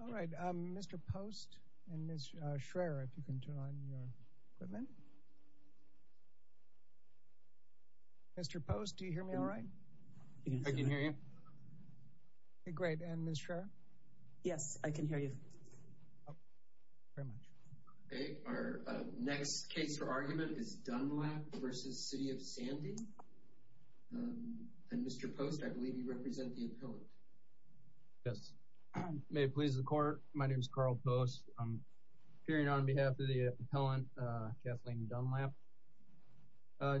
All right Mr. Post and Ms. Schraer if you can turn on your equipment. Mr. Post do you hear me all right? I can hear you. Great and Ms. Schraer? Yes I can hear you. Our next case for argument is Dunlap v. City of Sandy and Mr. Post I believe you may please the court. My name is Carl Post. I'm appearing on behalf of the appellant Kathleen Dunlap.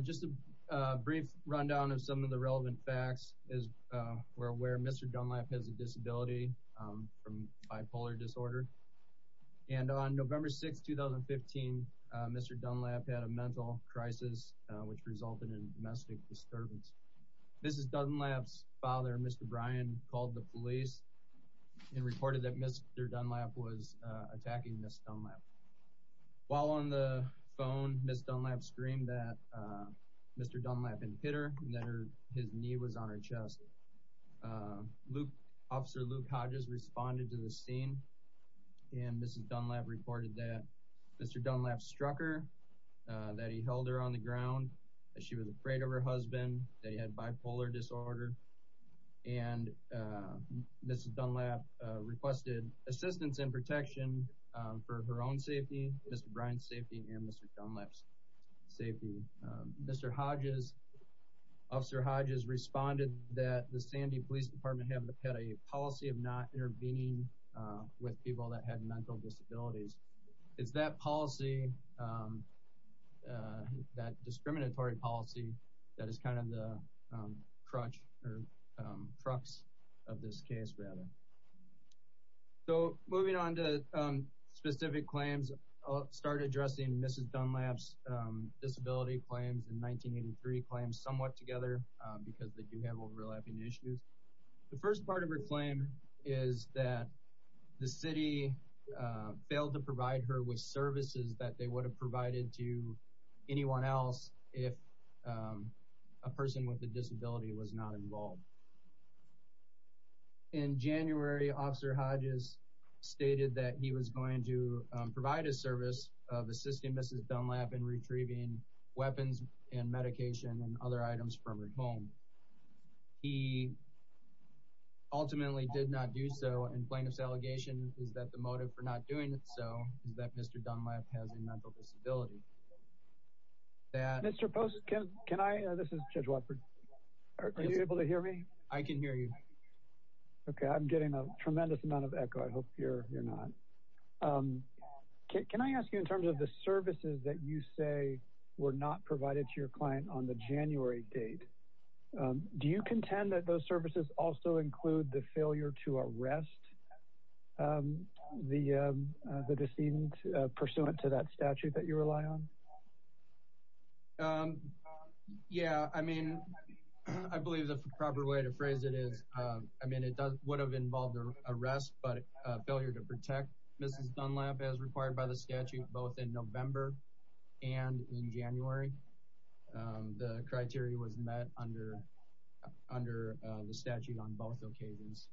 Just a brief rundown of some of the relevant facts as we're aware Mr. Dunlap has a disability from bipolar disorder and on November 6 2015 Mr. Dunlap had a mental crisis which resulted in domestic disturbance. Mrs. Dunlap's father Mr. Brian called the police and reported that Mr. Dunlap was attacking Ms. Dunlap. While on the phone Ms. Dunlap screamed that Mr. Dunlap had hit her and that her his knee was on her chest. Officer Luke Hodges responded to the scene and Mrs. Dunlap reported that Mr. Dunlap struck her, that he held her on the ground, that she was afraid of her husband, they had bipolar disorder, and Mrs. Dunlap requested assistance and protection for her own safety, Mr. Brian's safety, and Mr. Dunlap's safety. Mr. Hodges, Officer Hodges responded that the Sandy Police Department had a policy of not intervening with people that had mental disabilities. It's that policy, that discriminatory policy that is kind of the crutch or crux of this case rather. So moving on to specific claims, I'll start addressing Mrs. Dunlap's disability claims in 1983 claims somewhat together because they do have overlapping issues. The first part of her claim is that the city failed to provide the services that they would have provided to anyone else if a person with a disability was not involved. In January, Officer Hodges stated that he was going to provide a service of assisting Mrs. Dunlap in retrieving weapons and medication and other items from her home. He ultimately did not do so and plaintiff's allegation is that the motive for not doing so is that Mr. Dunlap has a mental disability. Mr. Post, can I, this is Judge Watford, are you able to hear me? I can hear you. Okay, I'm getting a tremendous amount of echo. I hope you're not. Can I ask you in terms of the services that you say were not provided to your client on the January date, do you contend that those services also include the failure to do it to that statute that you rely on? Yeah, I mean, I believe the proper way to phrase it is, I mean, it would have involved an arrest but a failure to protect Mrs. Dunlap as required by the statute both in November and in January. The criteria was met under the statute on both occasions.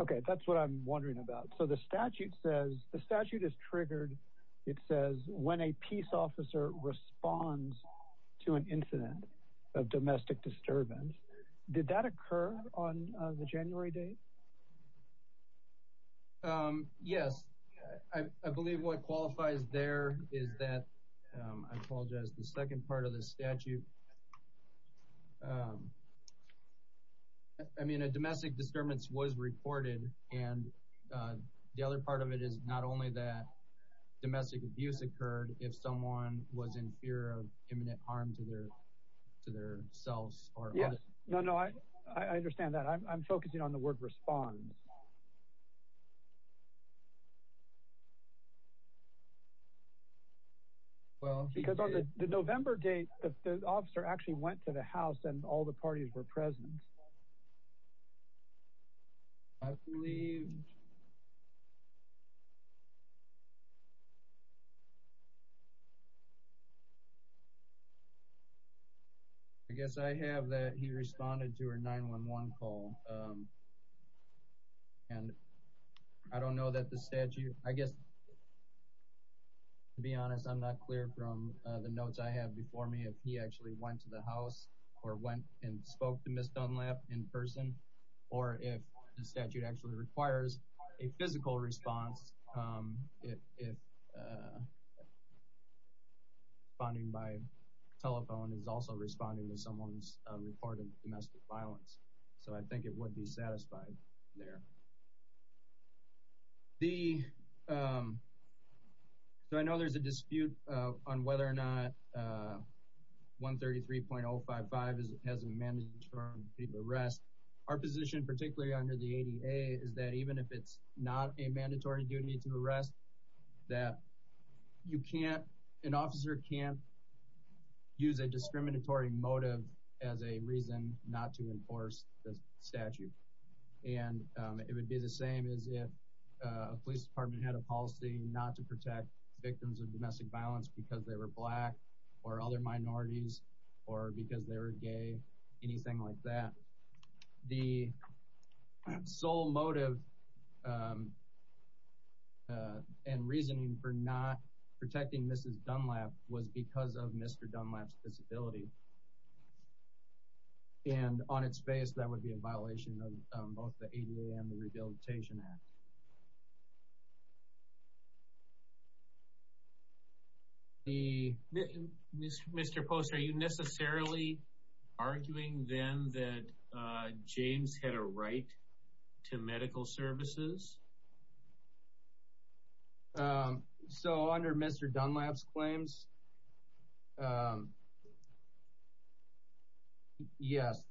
Okay, that's what I'm triggered. It says when a peace officer responds to an incident of domestic disturbance, did that occur on the January date? Yes, I believe what qualifies there is that, I apologize, the second part of the statute, I mean a domestic disturbance was reported and the other part of it is not only that domestic abuse occurred if someone was in fear of imminent harm to their to their selves. Yes, no, no, I understand that. I'm focusing on the word responds. Well, because on the November date, the officer actually went to the house and all the parties were present. I believe, I guess I have that he responded to her 911 call and I don't know that the statute, I guess, to be honest, I'm not clear from the notes I have before me if he actually went to the house or went and spoke to Mrs. Dunlap in person or if the statute actually requires a physical response if responding by telephone is also responding to someone's reported domestic violence. So I think it would be 133.055 as it has a mandatory term to arrest. Our position, particularly under the ADA, is that even if it's not a mandatory duty to arrest, that you can't, an officer can't use a discriminatory motive as a reason not to enforce the statute. And it would be the same as if a police department had a policy not to protect victims of domestic violence because they were black or other minorities or because they were gay, anything like that. The sole motive and reasoning for not protecting Mrs. Dunlap was because of Mr. Dunlap's disability. And on its face, that would be a violation of both the ADA and the Rehabilitation Act. Mr. Post, are you necessarily arguing, then, that James had a right to medical services? So under Mr. Dunlap's claims, yes.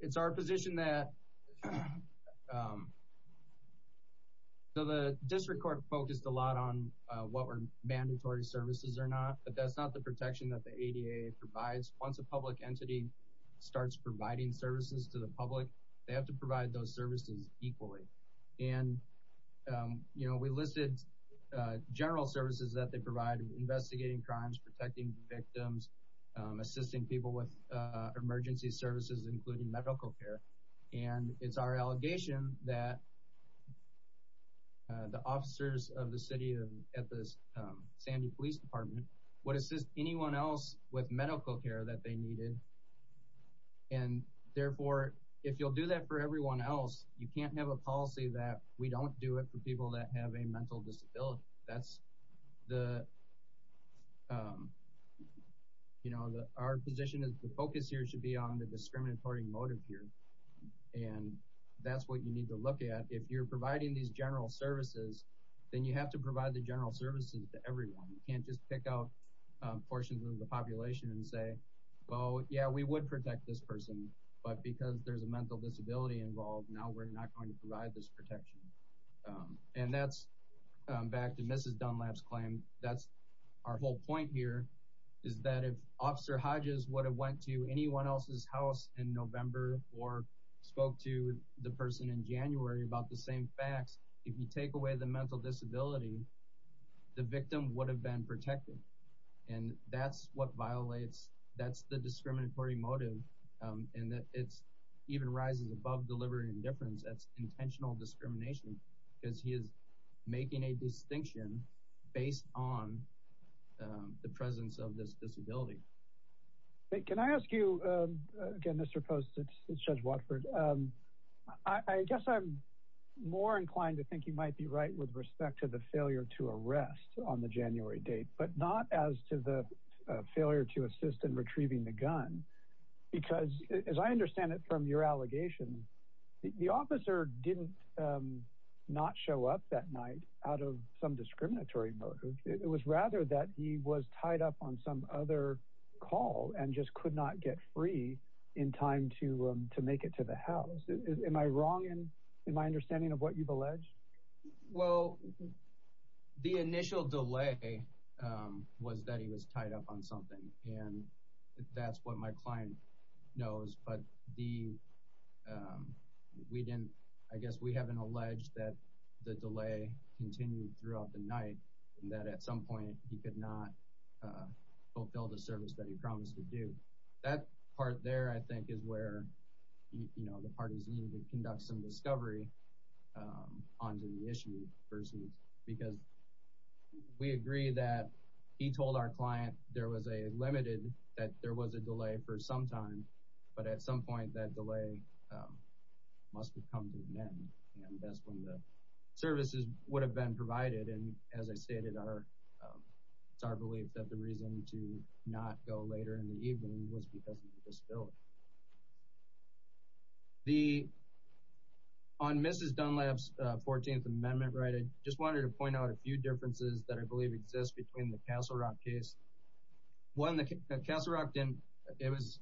It's our position that the district court focused a lot on what were mandatory services or not, but that's not the protection that the ADA provides. Once a public entity starts providing services to the public, they have to provide those services equally. And, you know, we listed general services that they provide, investigating crimes, protecting victims, assisting people with emergency services, including medical care. And it's our allegation that the officers of the city at the Sandy Police Department would assist anyone else with medical care that they needed. And therefore, if you'll do that for everyone else, you can't have a policy that we don't do it for people that have a mental disability. That's the, you know, our position is the focus here should be on the discriminatory motive here. And that's what you need to look at. If you're providing these general services, then you have to provide the general services to everyone. You can't just pick out portions of the population and say, well, yeah, we would protect this person, but because there's a mental disability involved, now we're not going to provide this protection. And that's back to Mrs. Dunlap's claim. That's our whole point here is that if Officer Hodges would have went to anyone else's house in November or spoke to the person in January about the same facts, if you take away the mental disability, the victim would have been protected. And that's what violates, that's the discriminatory motive, and that it's even rises above deliberate indifference. That's intentional discrimination because he is making a distinction based on the presence of this disability. Can I ask you, again, Mr. Post, Judge Watford, I guess I'm more inclined to think you might be right with respect to the failure to arrest on the January date, but not as to the failure to assist in retrieving the gun. Because as I understand it from your allegation, the officer did not show up that night out of some discriminatory motive. It was rather that he was tied up on some other call and just could not get free in time to make it to the house. Am I wrong in my Well, the initial delay was that he was tied up on something. And that's what my client knows. But we haven't alleged that the delay continued throughout the night and that at some point he could not fulfill the service that he promised to do. That part there, I think, is where the parties needed to conduct some discovery onto the issue versus because we agree that he told our client there was a limited, that there was a delay for some time. But at some point, that delay must have come to an end. And that's when the services would have been provided. And as I stated, it's our belief that the reason to not go later in On Mrs. Dunlap's 14th Amendment right, I just wanted to point out a few differences that I believe exist between the Castle Rock case. One, the Castle Rock, it was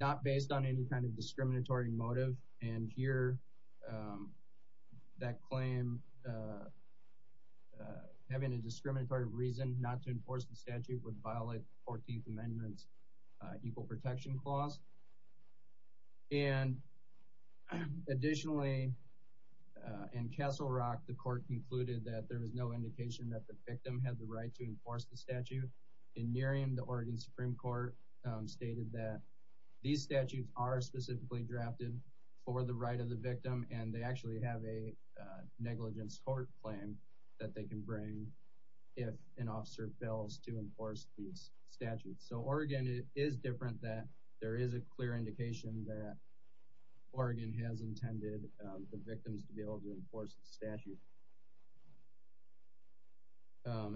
not based on any kind of discriminatory motive. And here, that claim, having a discriminatory reason not to enforce the statute would violate the 14th Amendment's Equal Protection Clause. And additionally, in Castle Rock, the court concluded that there was no indication that the victim had the right to enforce the statute. In Nearyen, the Oregon Supreme Court stated that these statutes are specifically drafted for the right of the victim and they actually have a negligence court claim that they can bring if an officer fails to enforce these statutes. So Oregon is different that there is a clear indication that Oregon has intended the victims to be able to enforce the statute.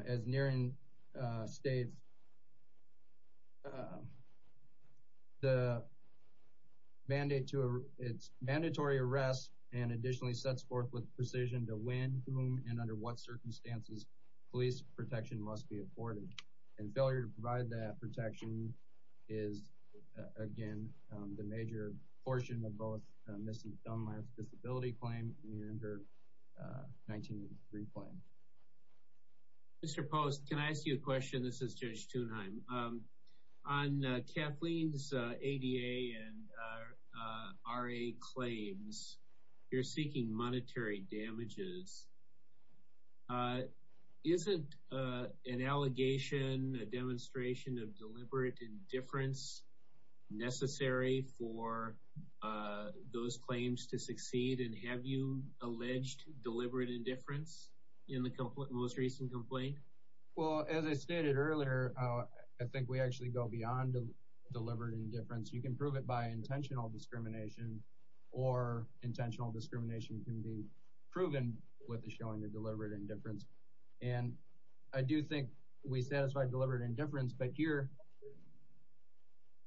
As Nearyen states, the mandate to, it's mandatory arrest and additionally sets forth with precision to when, whom, and under what circumstances police protection must be provided. Failure to provide that protection is, again, the major portion of both Mrs. Dunlap's disability claim and her 1983 claim. Mr. Post, can I ask you a question? This is Judge Thunheim. On Kathleen's ADA and RA claims, you're seeking monetary damages. Is it an allegation, a demonstration of deliberate indifference necessary for those claims to succeed? And have you alleged deliberate indifference in the most recent complaint? Well, as I stated earlier, I think we actually go beyond deliberate indifference. You can prove it by intentional discrimination or intentional discrimination can be proven with a showing of deliberate indifference. And I do think we satisfy deliberate indifference. But here,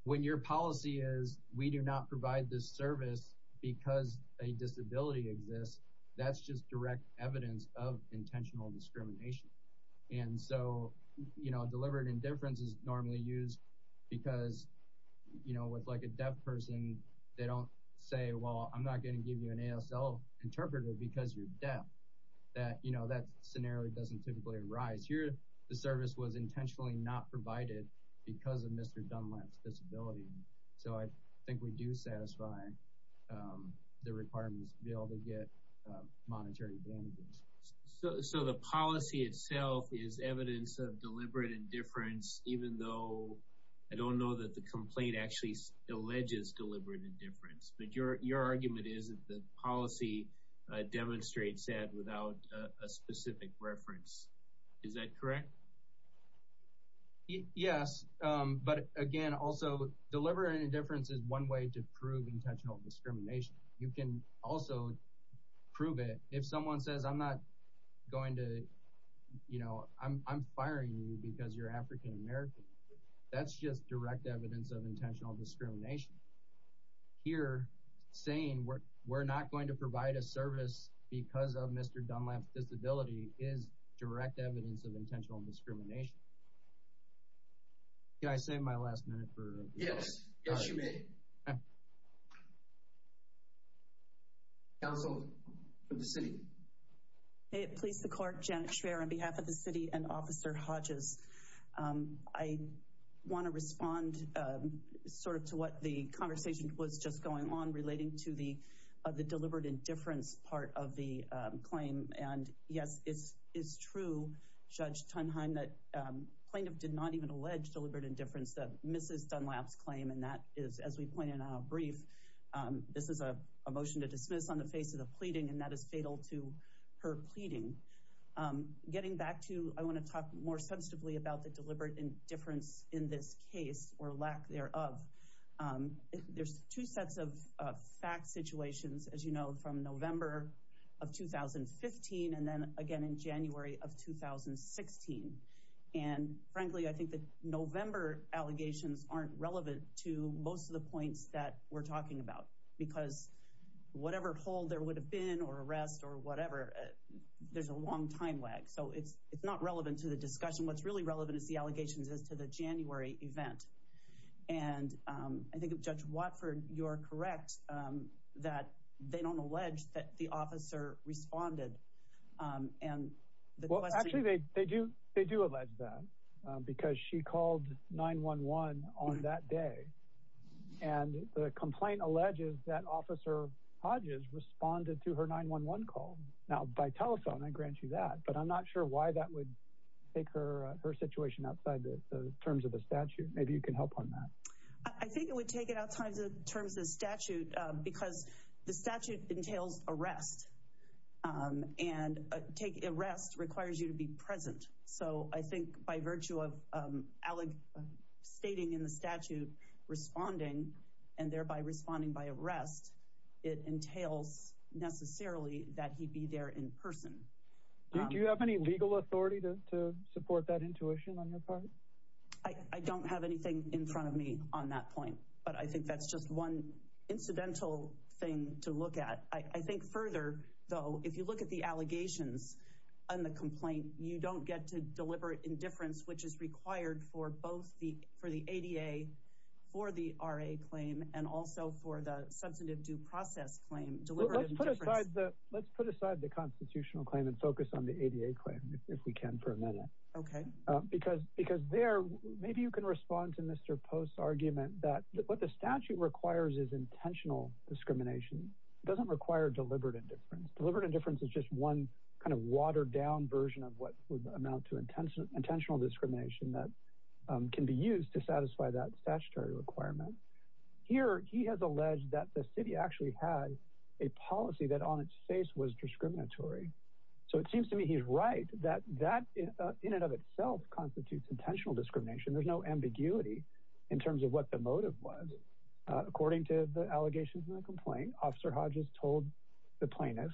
when your policy is we do not provide this service because a disability exists, that's just direct evidence of intentional discrimination. And so, you know, deliberate indifference is normally used because, you know, with, like, a deaf person, they don't say, well, I'm not going to give you an ASL interpreter because you're deaf. That, you know, that scenario doesn't typically arise. Here, the service was intentionally not provided because of Mr. Dunlap's disability. So I think we do satisfy the requirements to be able to get monetary damages. So the policy itself is evidence of deliberate indifference, even though I don't know that the complaint actually alleges deliberate indifference. But your argument is that the policy demonstrates that without a specific reference. Is that correct? Yes. But again, also, deliberate indifference is one way to prove intentional discrimination. You can also prove it if someone says, I'm not going to, you know, I'm firing you because you're African-American. That's just direct evidence of intentional discrimination. Here, saying we're not going to provide a service because of Mr. Dunlap's disability is direct evidence of intentional discrimination. Did I save my last minute for? Yes. Yes, you did. Counsel, for the city. Please, the court, Janet Schreier on behalf of the city and Officer Hodges. I want to respond sort of to what the conversation was just going on relating to the deliberate indifference part of the claim. And yes, it's true, Judge Tunheim, that plaintiff did not even allege deliberate indifference that misses Dunlap's claim. And that is, as we pointed out brief, this is a motion to dismiss on the face of the pleading. And that is fatal to her pleading. Getting back to, I want to talk more sensitively about the deliberate indifference in this case or lack thereof. There's two sets of fact situations, as you know, from November of 2015 and then again in January of 2016. And frankly, I think the November allegations aren't relevant to most of the points that we're talking about, because whatever hold there would have been or arrest or whatever, there's a long time lag. So it's not relevant to the discussion. What's really relevant is the allegations as to the January event. And I think, Judge Watford, you're correct that they don't allege that the officer responded. Well, actually, they do they do allege that, because she called 911 on that day. And the complaint alleges that Officer Hodges responded to her 911 call. Now, by telephone, I grant you that. But I'm not sure why that would take her situation outside the terms of the statute. Maybe you can help on that. I think it would take it outside the terms of the arrest. And take arrest requires you to be present. So I think by virtue of alleg stating in the statute responding and thereby responding by arrest, it entails necessarily that he be there in person. Do you have any legal authority to support that intuition on your part? I don't have anything in front of me on that point. But I think that's just one incidental thing to look at. I think further, though, if you look at the allegations on the complaint, you don't get to deliver indifference, which is required for both for the ADA, for the RA claim, and also for the substantive due process claim. Let's put aside the constitutional claim and focus on the ADA claim, if we can for a minute. Okay. Because there, maybe you can respond to Mr. Post's argument that what the statute requires is intentional discrimination. It doesn't require deliberate indifference. Deliberate indifference is just one kind of watered-down version of what would amount to intentional discrimination that can be used to satisfy that statutory requirement. Here, he has alleged that the city actually had a policy that on its face was discriminatory. So it seems to me he's right that that in and of itself constitutes intentional discrimination. There's no ambiguity in terms of what the motive was. According to the allegations in the complaint, Officer Hodges told the plaintiff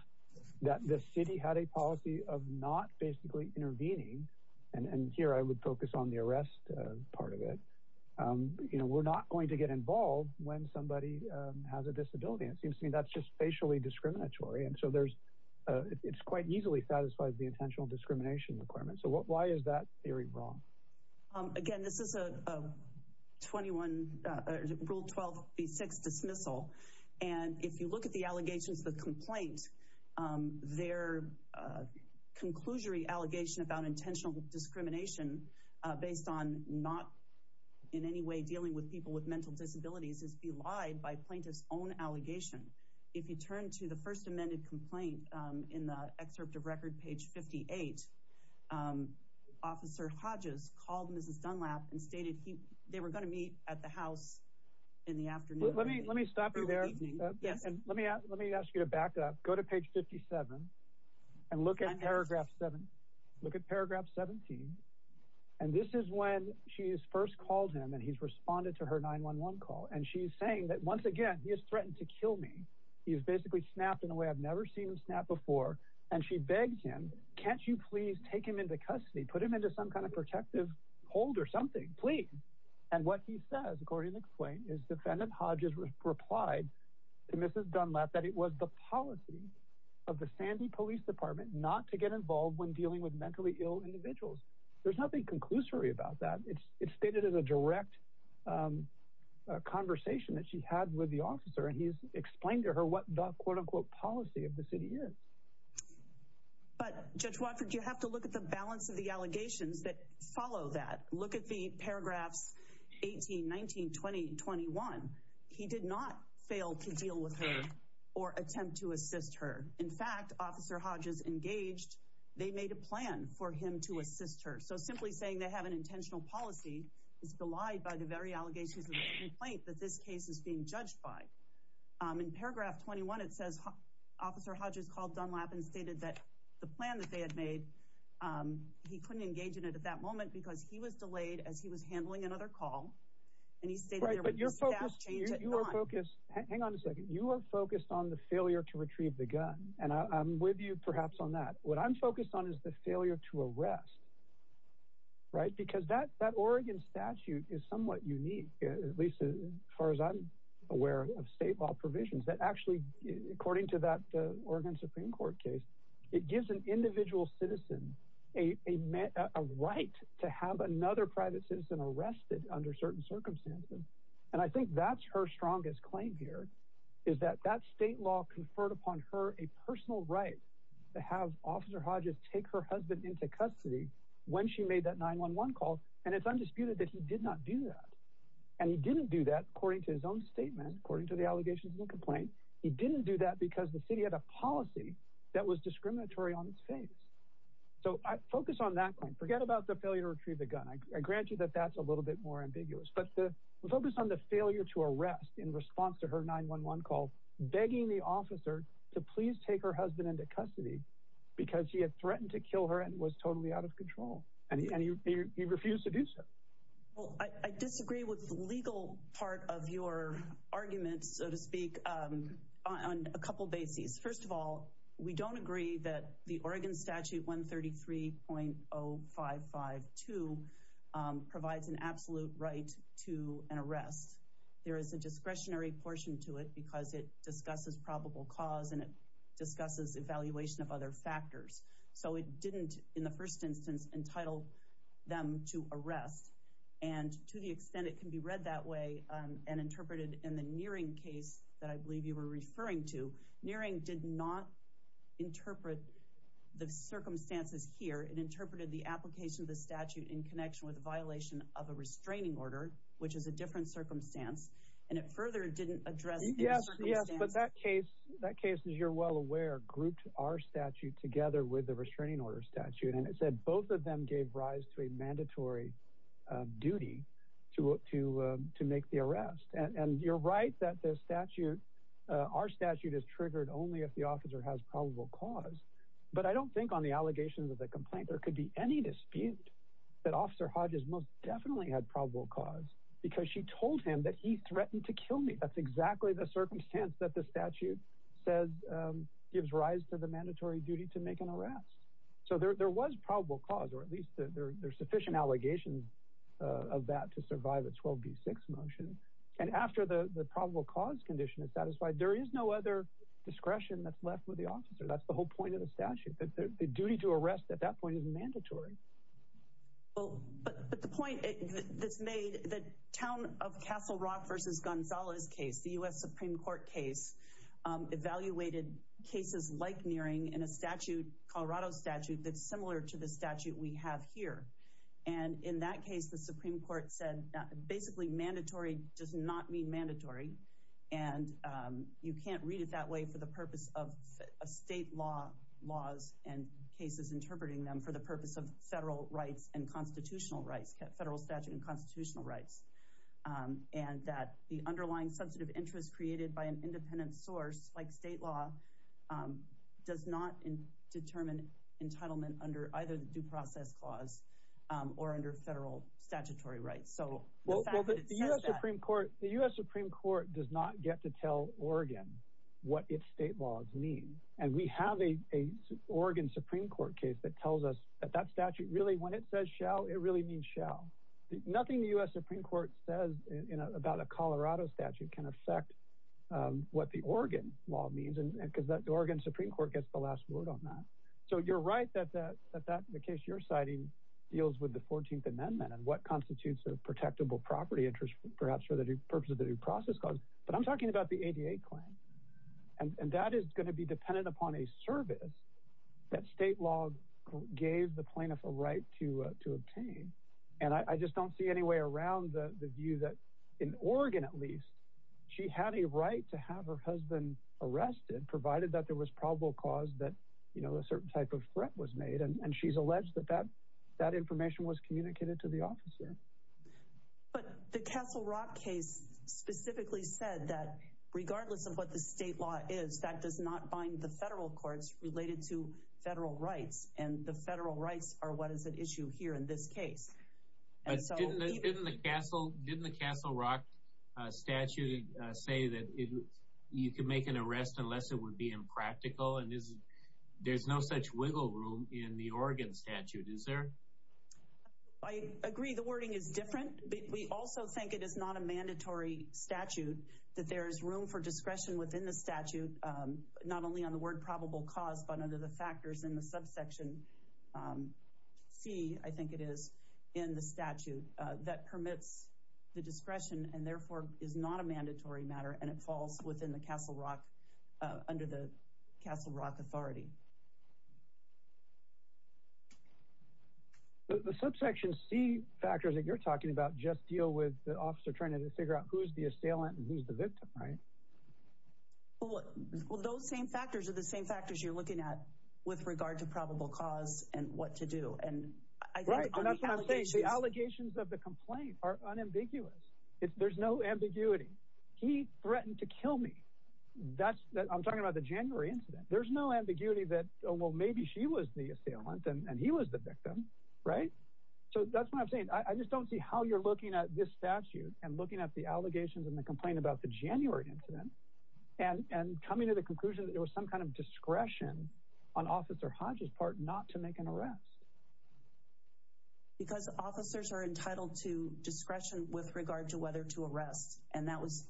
that the city had a policy of not basically intervening. And here, I would focus on the arrest part of it. You know, we're not going to get involved when somebody has a disability. It seems to me that's just facially discriminatory. And so there's, it's quite easily satisfies the intentional discrimination requirement. So what, why is that theory wrong? Again, this is a 21, Rule 12b6 dismissal. And if you look at the allegations of the complaint, their conclusory allegation about intentional discrimination based on not in any way dealing with people with mental disabilities is belied by plaintiff's own allegation. If you turn to the first amended complaint in the excerpt of page 58, Officer Hodges called Mrs. Dunlap and stated they were going to meet at the house in the afternoon. Let me stop you there. Let me ask you to back up. Go to page 57 and look at paragraph 7. Look at paragraph 17. And this is when she is first called him and he's responded to her 911 call. And she's saying that once again, he has threatened to kill me. He's basically snapped in a never seen him snap before. And she begs him, can't you please take him into custody, put him into some kind of protective hold or something, please. And what he says, according to the complaint, is defendant Hodges replied to Mrs. Dunlap that it was the policy of the Sandy Police Department not to get involved when dealing with mentally ill individuals. There's nothing conclusory about that. It's stated as a direct conversation that she had with the But Judge Watford, you have to look at the balance of the allegations that follow that. Look at the paragraphs 18, 19, 20, 21. He did not fail to deal with her or attempt to assist her. In fact, Officer Hodges engaged. They made a plan for him to assist her. So simply saying they have an intentional policy is belied by the very allegations of the complaint that this case is being judged by. In paragraph 21, it says Officer Hodges called Dunlap and stated that the plan that they had made, he couldn't engage in it at that moment because he was delayed as he was handling another call. And he's saying that you're focused. You are focused. Hang on a second. You are focused on the failure to retrieve the gun. And I'm with you, perhaps, on that. What I'm focused on is the failure to arrest. Right, because that that Oregon statute is somewhat unique, at least as far as I'm aware of state law provisions that actually, according to that Oregon Supreme Court case, it gives an individual citizen a right to have another private citizen arrested under certain circumstances. And I think that's her strongest claim here, is that that state law conferred upon her a personal right to have Officer Hodges take her husband into custody when she made that 911 call. And it's undisputed that he did not do that. And he didn't do that, according to his own statement, according to the allegations and complaint. He didn't do that because the city had a policy that was discriminatory on its face. So I focus on that point. Forget about the failure to retrieve the gun. I grant you that that's a little bit more ambiguous. But the focus on the failure to arrest in response to her 911 call, begging the officer to please take her husband into custody because he had threatened to kill her and was totally out of control. And he refused to do so. Well, I disagree with the legal part of your argument, so to speak, on a couple bases. First of all, we don't agree that the Oregon Statute 133.0552 provides an absolute right to an arrest. There is a discretionary portion to it because it discusses probable cause and it discusses evaluation of other factors. So it didn't, in the first instance, entitle them to arrest. And to the extent it can be read that way and interpreted in the Neering case that I believe you were referring to, Neering did not interpret the circumstances here. It interpreted the application of the statute in connection with violation of a restraining order, which is a different circumstance. And it further didn't address the circumstances. Yes, yes. But that case, that case, as you're well aware, grouped our statute together with the restraining order statute and it said both of them gave rise to a mandatory duty to make the arrest. And you're right that the statute, our statute, is triggered only if the officer has probable cause. But I don't think on the allegations of the complaint there could be any dispute that Officer Hodges most definitely had probable cause because she told him that he threatened to kill me. That's exactly the circumstance that the statute says gives rise to the mandatory duty to make an arrest. So there was probable cause, or at least there's sufficient allegations of that to survive a 12b6 motion. And after the probable cause condition is satisfied, there is no other discretion that's left with the officer. That's the whole point of the statute. The duty to arrest at that point is mandatory. Well, but the point that's made, the town of Castle Rock versus Gonzalez case, the U.S. Supreme Court case, evaluated cases like Neering in a statute, Colorado statute, that's similar to the statute we have here. And in that case, the Supreme Court said basically mandatory does not mean mandatory. And you can't read it that way for the purpose of state laws and cases interpreting them for the purpose of federal rights and constitutional rights, federal statute and constitutional rights. And that the underlying sensitive interest created by an independent source like state law does not determine entitlement under either the Due Process Clause or under federal statutory rights. So the fact that it says that... Well, the U.S. Supreme Court does not get to tell Oregon what its state laws mean. And we have a Oregon Supreme Court case that tells us that statute really, when it says shall, it really means shall. Nothing the U.S. Supreme Court says about a Colorado statute can affect what the Oregon law means, because the Oregon Supreme Court gets the last word on that. So you're right that the case you're citing deals with the 14th Amendment and what constitutes a protectable property interest, perhaps for the purpose of the Due Process Clause. But I'm talking about the ADA claim. And that is going to be a plaintiff a right to obtain. And I just don't see any way around the view that, in Oregon at least, she had a right to have her husband arrested, provided that there was probable cause that, you know, a certain type of threat was made. And she's alleged that that information was communicated to the officer. But the Castle Rock case specifically said that regardless of what the state law is, that does not bind the federal courts related to federal rights. And the federal rights are what is at issue here in this case. But didn't the Castle Rock statute say that you can make an arrest unless it would be impractical? And there's no such wiggle room in the Oregon statute, is there? I agree the wording is different. We also think it is not a mandatory statute, that there is room for discretion within the statute, not only on the word probable cause, but under the factors in the subsection C, I think it is, in the statute, that permits the discretion and therefore is not a mandatory matter. And it falls within the Castle Rock, under the Castle Rock authority. The subsection C factors that you're talking about just deal with the officer trying to figure out who's the assailant and who's the victim, right? Well, those same factors are the same factors you're looking at with regard to probable cause and what to do. The allegations of the complaint are unambiguous. There's no ambiguity. He threatened to kill me. I'm talking about the January incident. There's no ambiguity that, oh, well, maybe she was the assailant and he was the victim, right? So that's what I'm saying. I just don't see how you're looking at this statute and looking at the allegations and the complaint about the January incident and coming to the conclusion that there was some kind of discretion on Officer Hodge's part not to make an arrest. Because officers are entitled to discretion with regard to whether to arrest. And that was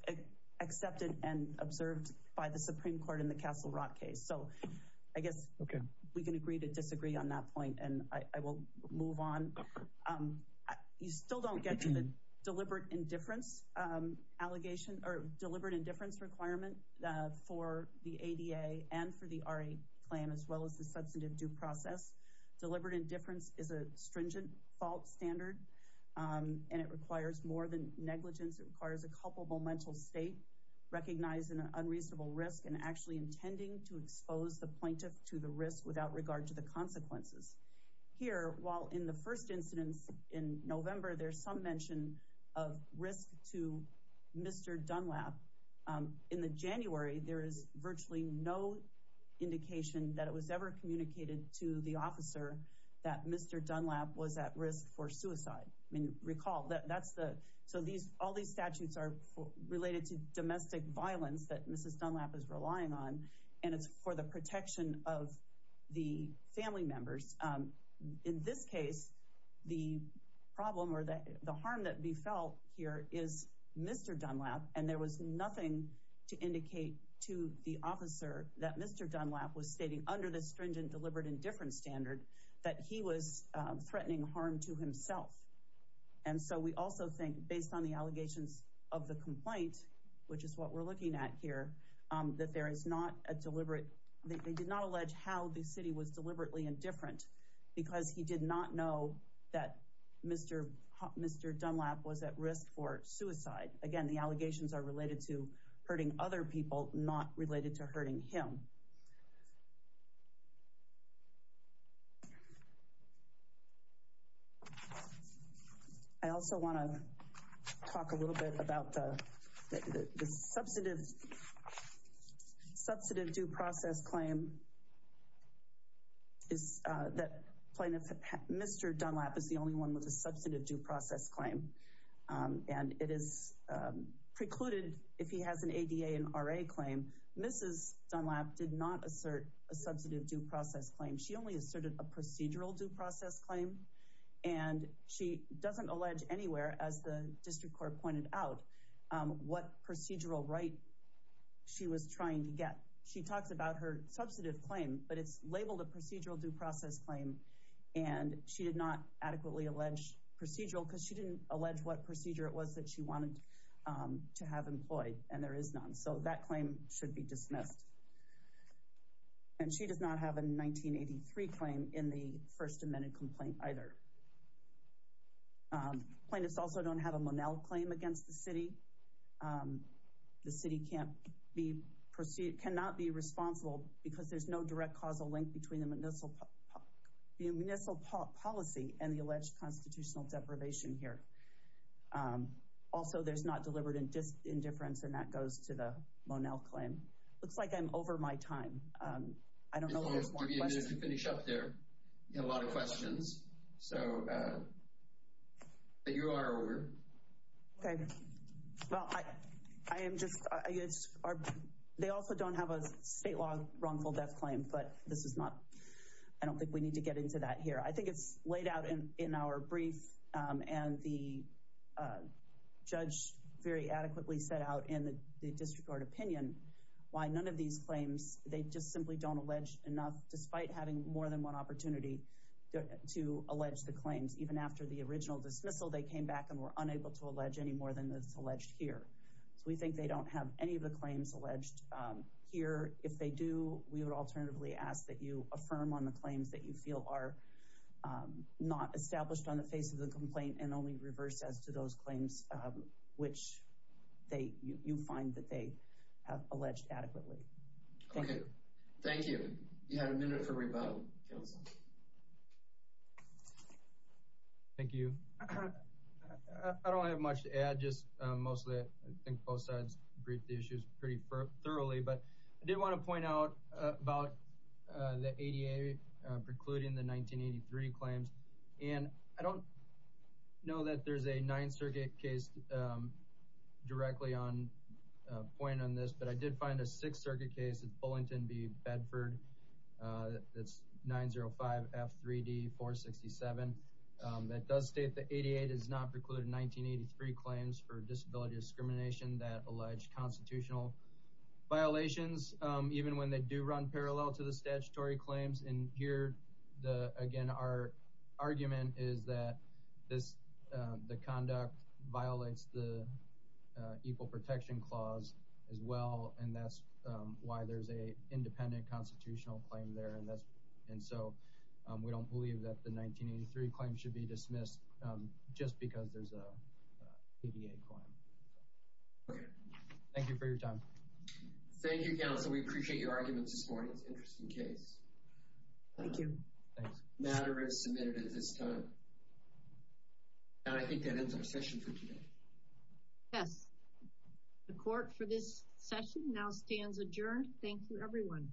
accepted and observed by the Supreme Court in the Castle Rock case. So I guess we can agree to disagree on that point, and I will move on. Um, you still don't get to the deliberate indifference allegation or deliberate indifference requirement for the ADA and for the RA claim, as well as the substantive due process. Deliberate indifference is a stringent fault standard, and it requires more than negligence. It requires a culpable mental state, recognizing an unreasonable risk, and actually intending to expose the plaintiff to the risk without regard to the consequences. Here, while in the first incidents in November, there's some mention of risk to Mr. Dunlap. In the January, there is virtually no indication that it was ever communicated to the officer that Mr. Dunlap was at risk for suicide. I mean, recall, that's the, so these, all these statutes are related to domestic violence that of the family members. In this case, the problem or the harm that we felt here is Mr. Dunlap, and there was nothing to indicate to the officer that Mr. Dunlap was stating under the stringent deliberate indifference standard that he was threatening harm to himself. And so we also think, based on the allegations of the complaint, which is what we're looking at here, that there is not a deliberate, they did not allege how the city was deliberately indifferent, because he did not know that Mr. Dunlap was at risk for suicide. Again, the allegations are related to hurting other people, not related to hurting him. I also want to talk a little bit about the substantive due process claim, that Mr. Dunlap is the only one with a substantive due process claim. And it is precluded, if he has an ADA and RA claim, Mrs. Dunlap did not assert a substantive due process claim. She only asserted a procedural due process claim, and she doesn't allege anywhere, as the district court pointed out, what procedural right she was trying to get. She talks about her substantive claim, but it's labeled a procedural due process claim, and she did not adequately allege procedural, because she didn't allege what procedure it was that she wanted to have employed, and there is none. So that claim should be The plaintiffs also don't have a Monell claim against the city. The city cannot be responsible, because there's no direct causal link between the municipal policy and the alleged constitutional deprivation here. Also, there's not deliberate indifference, and that goes to the Monell claim. Looks like I'm over my time. I don't know if there's more questions. Finish up there. You have a lot of questions. So, but you are over. Okay. Well, I am just, they also don't have a state law wrongful death claim, but this is not, I don't think we need to get into that here. I think it's laid out in our brief, and the judge very adequately set out in the district court opinion why none of these claims, they just simply don't allege enough, despite having more than one opportunity to allege the claims. Even after the original dismissal, they came back and were unable to allege any more than is alleged here. So we think they don't have any of the claims alleged here. If they do, we would alternatively ask that you affirm on the claims that you feel are not established on the face of the complaint and only reverse as to those claims which they, you find that they have alleged adequately. Okay. Thank you. You have a minute for rebuttal, counsel. Thank you. I don't have much to add, just mostly, I think both sides briefed the issues pretty thoroughly, but I did want to point out about the ADA precluding the 1983 claims. And I don't know that there's a Ninth Circuit case directly on, pointing on this, but I did find a Sixth Circuit case, it's Bullington v. Bedford, that's 905F3D467, that does state the ADA does not preclude 1983 claims for disability discrimination that allege constitutional violations, even when they do run parallel to the statutory claims. And here, again, our argument is that this, the conduct violates the Equal Protection Clause as well, and that's why there's an independent constitutional claim there. And so we don't believe that the 1983 claim should be dismissed just because there's an ADA claim. Okay. Thank you for your time. Thank you, counsel. We appreciate your arguments this morning. It's an interesting case. Thank you. Matter is submitted at this time. And I think that ends our session for today. Yes. The court for this session now stands adjourned. Thank you, everyone.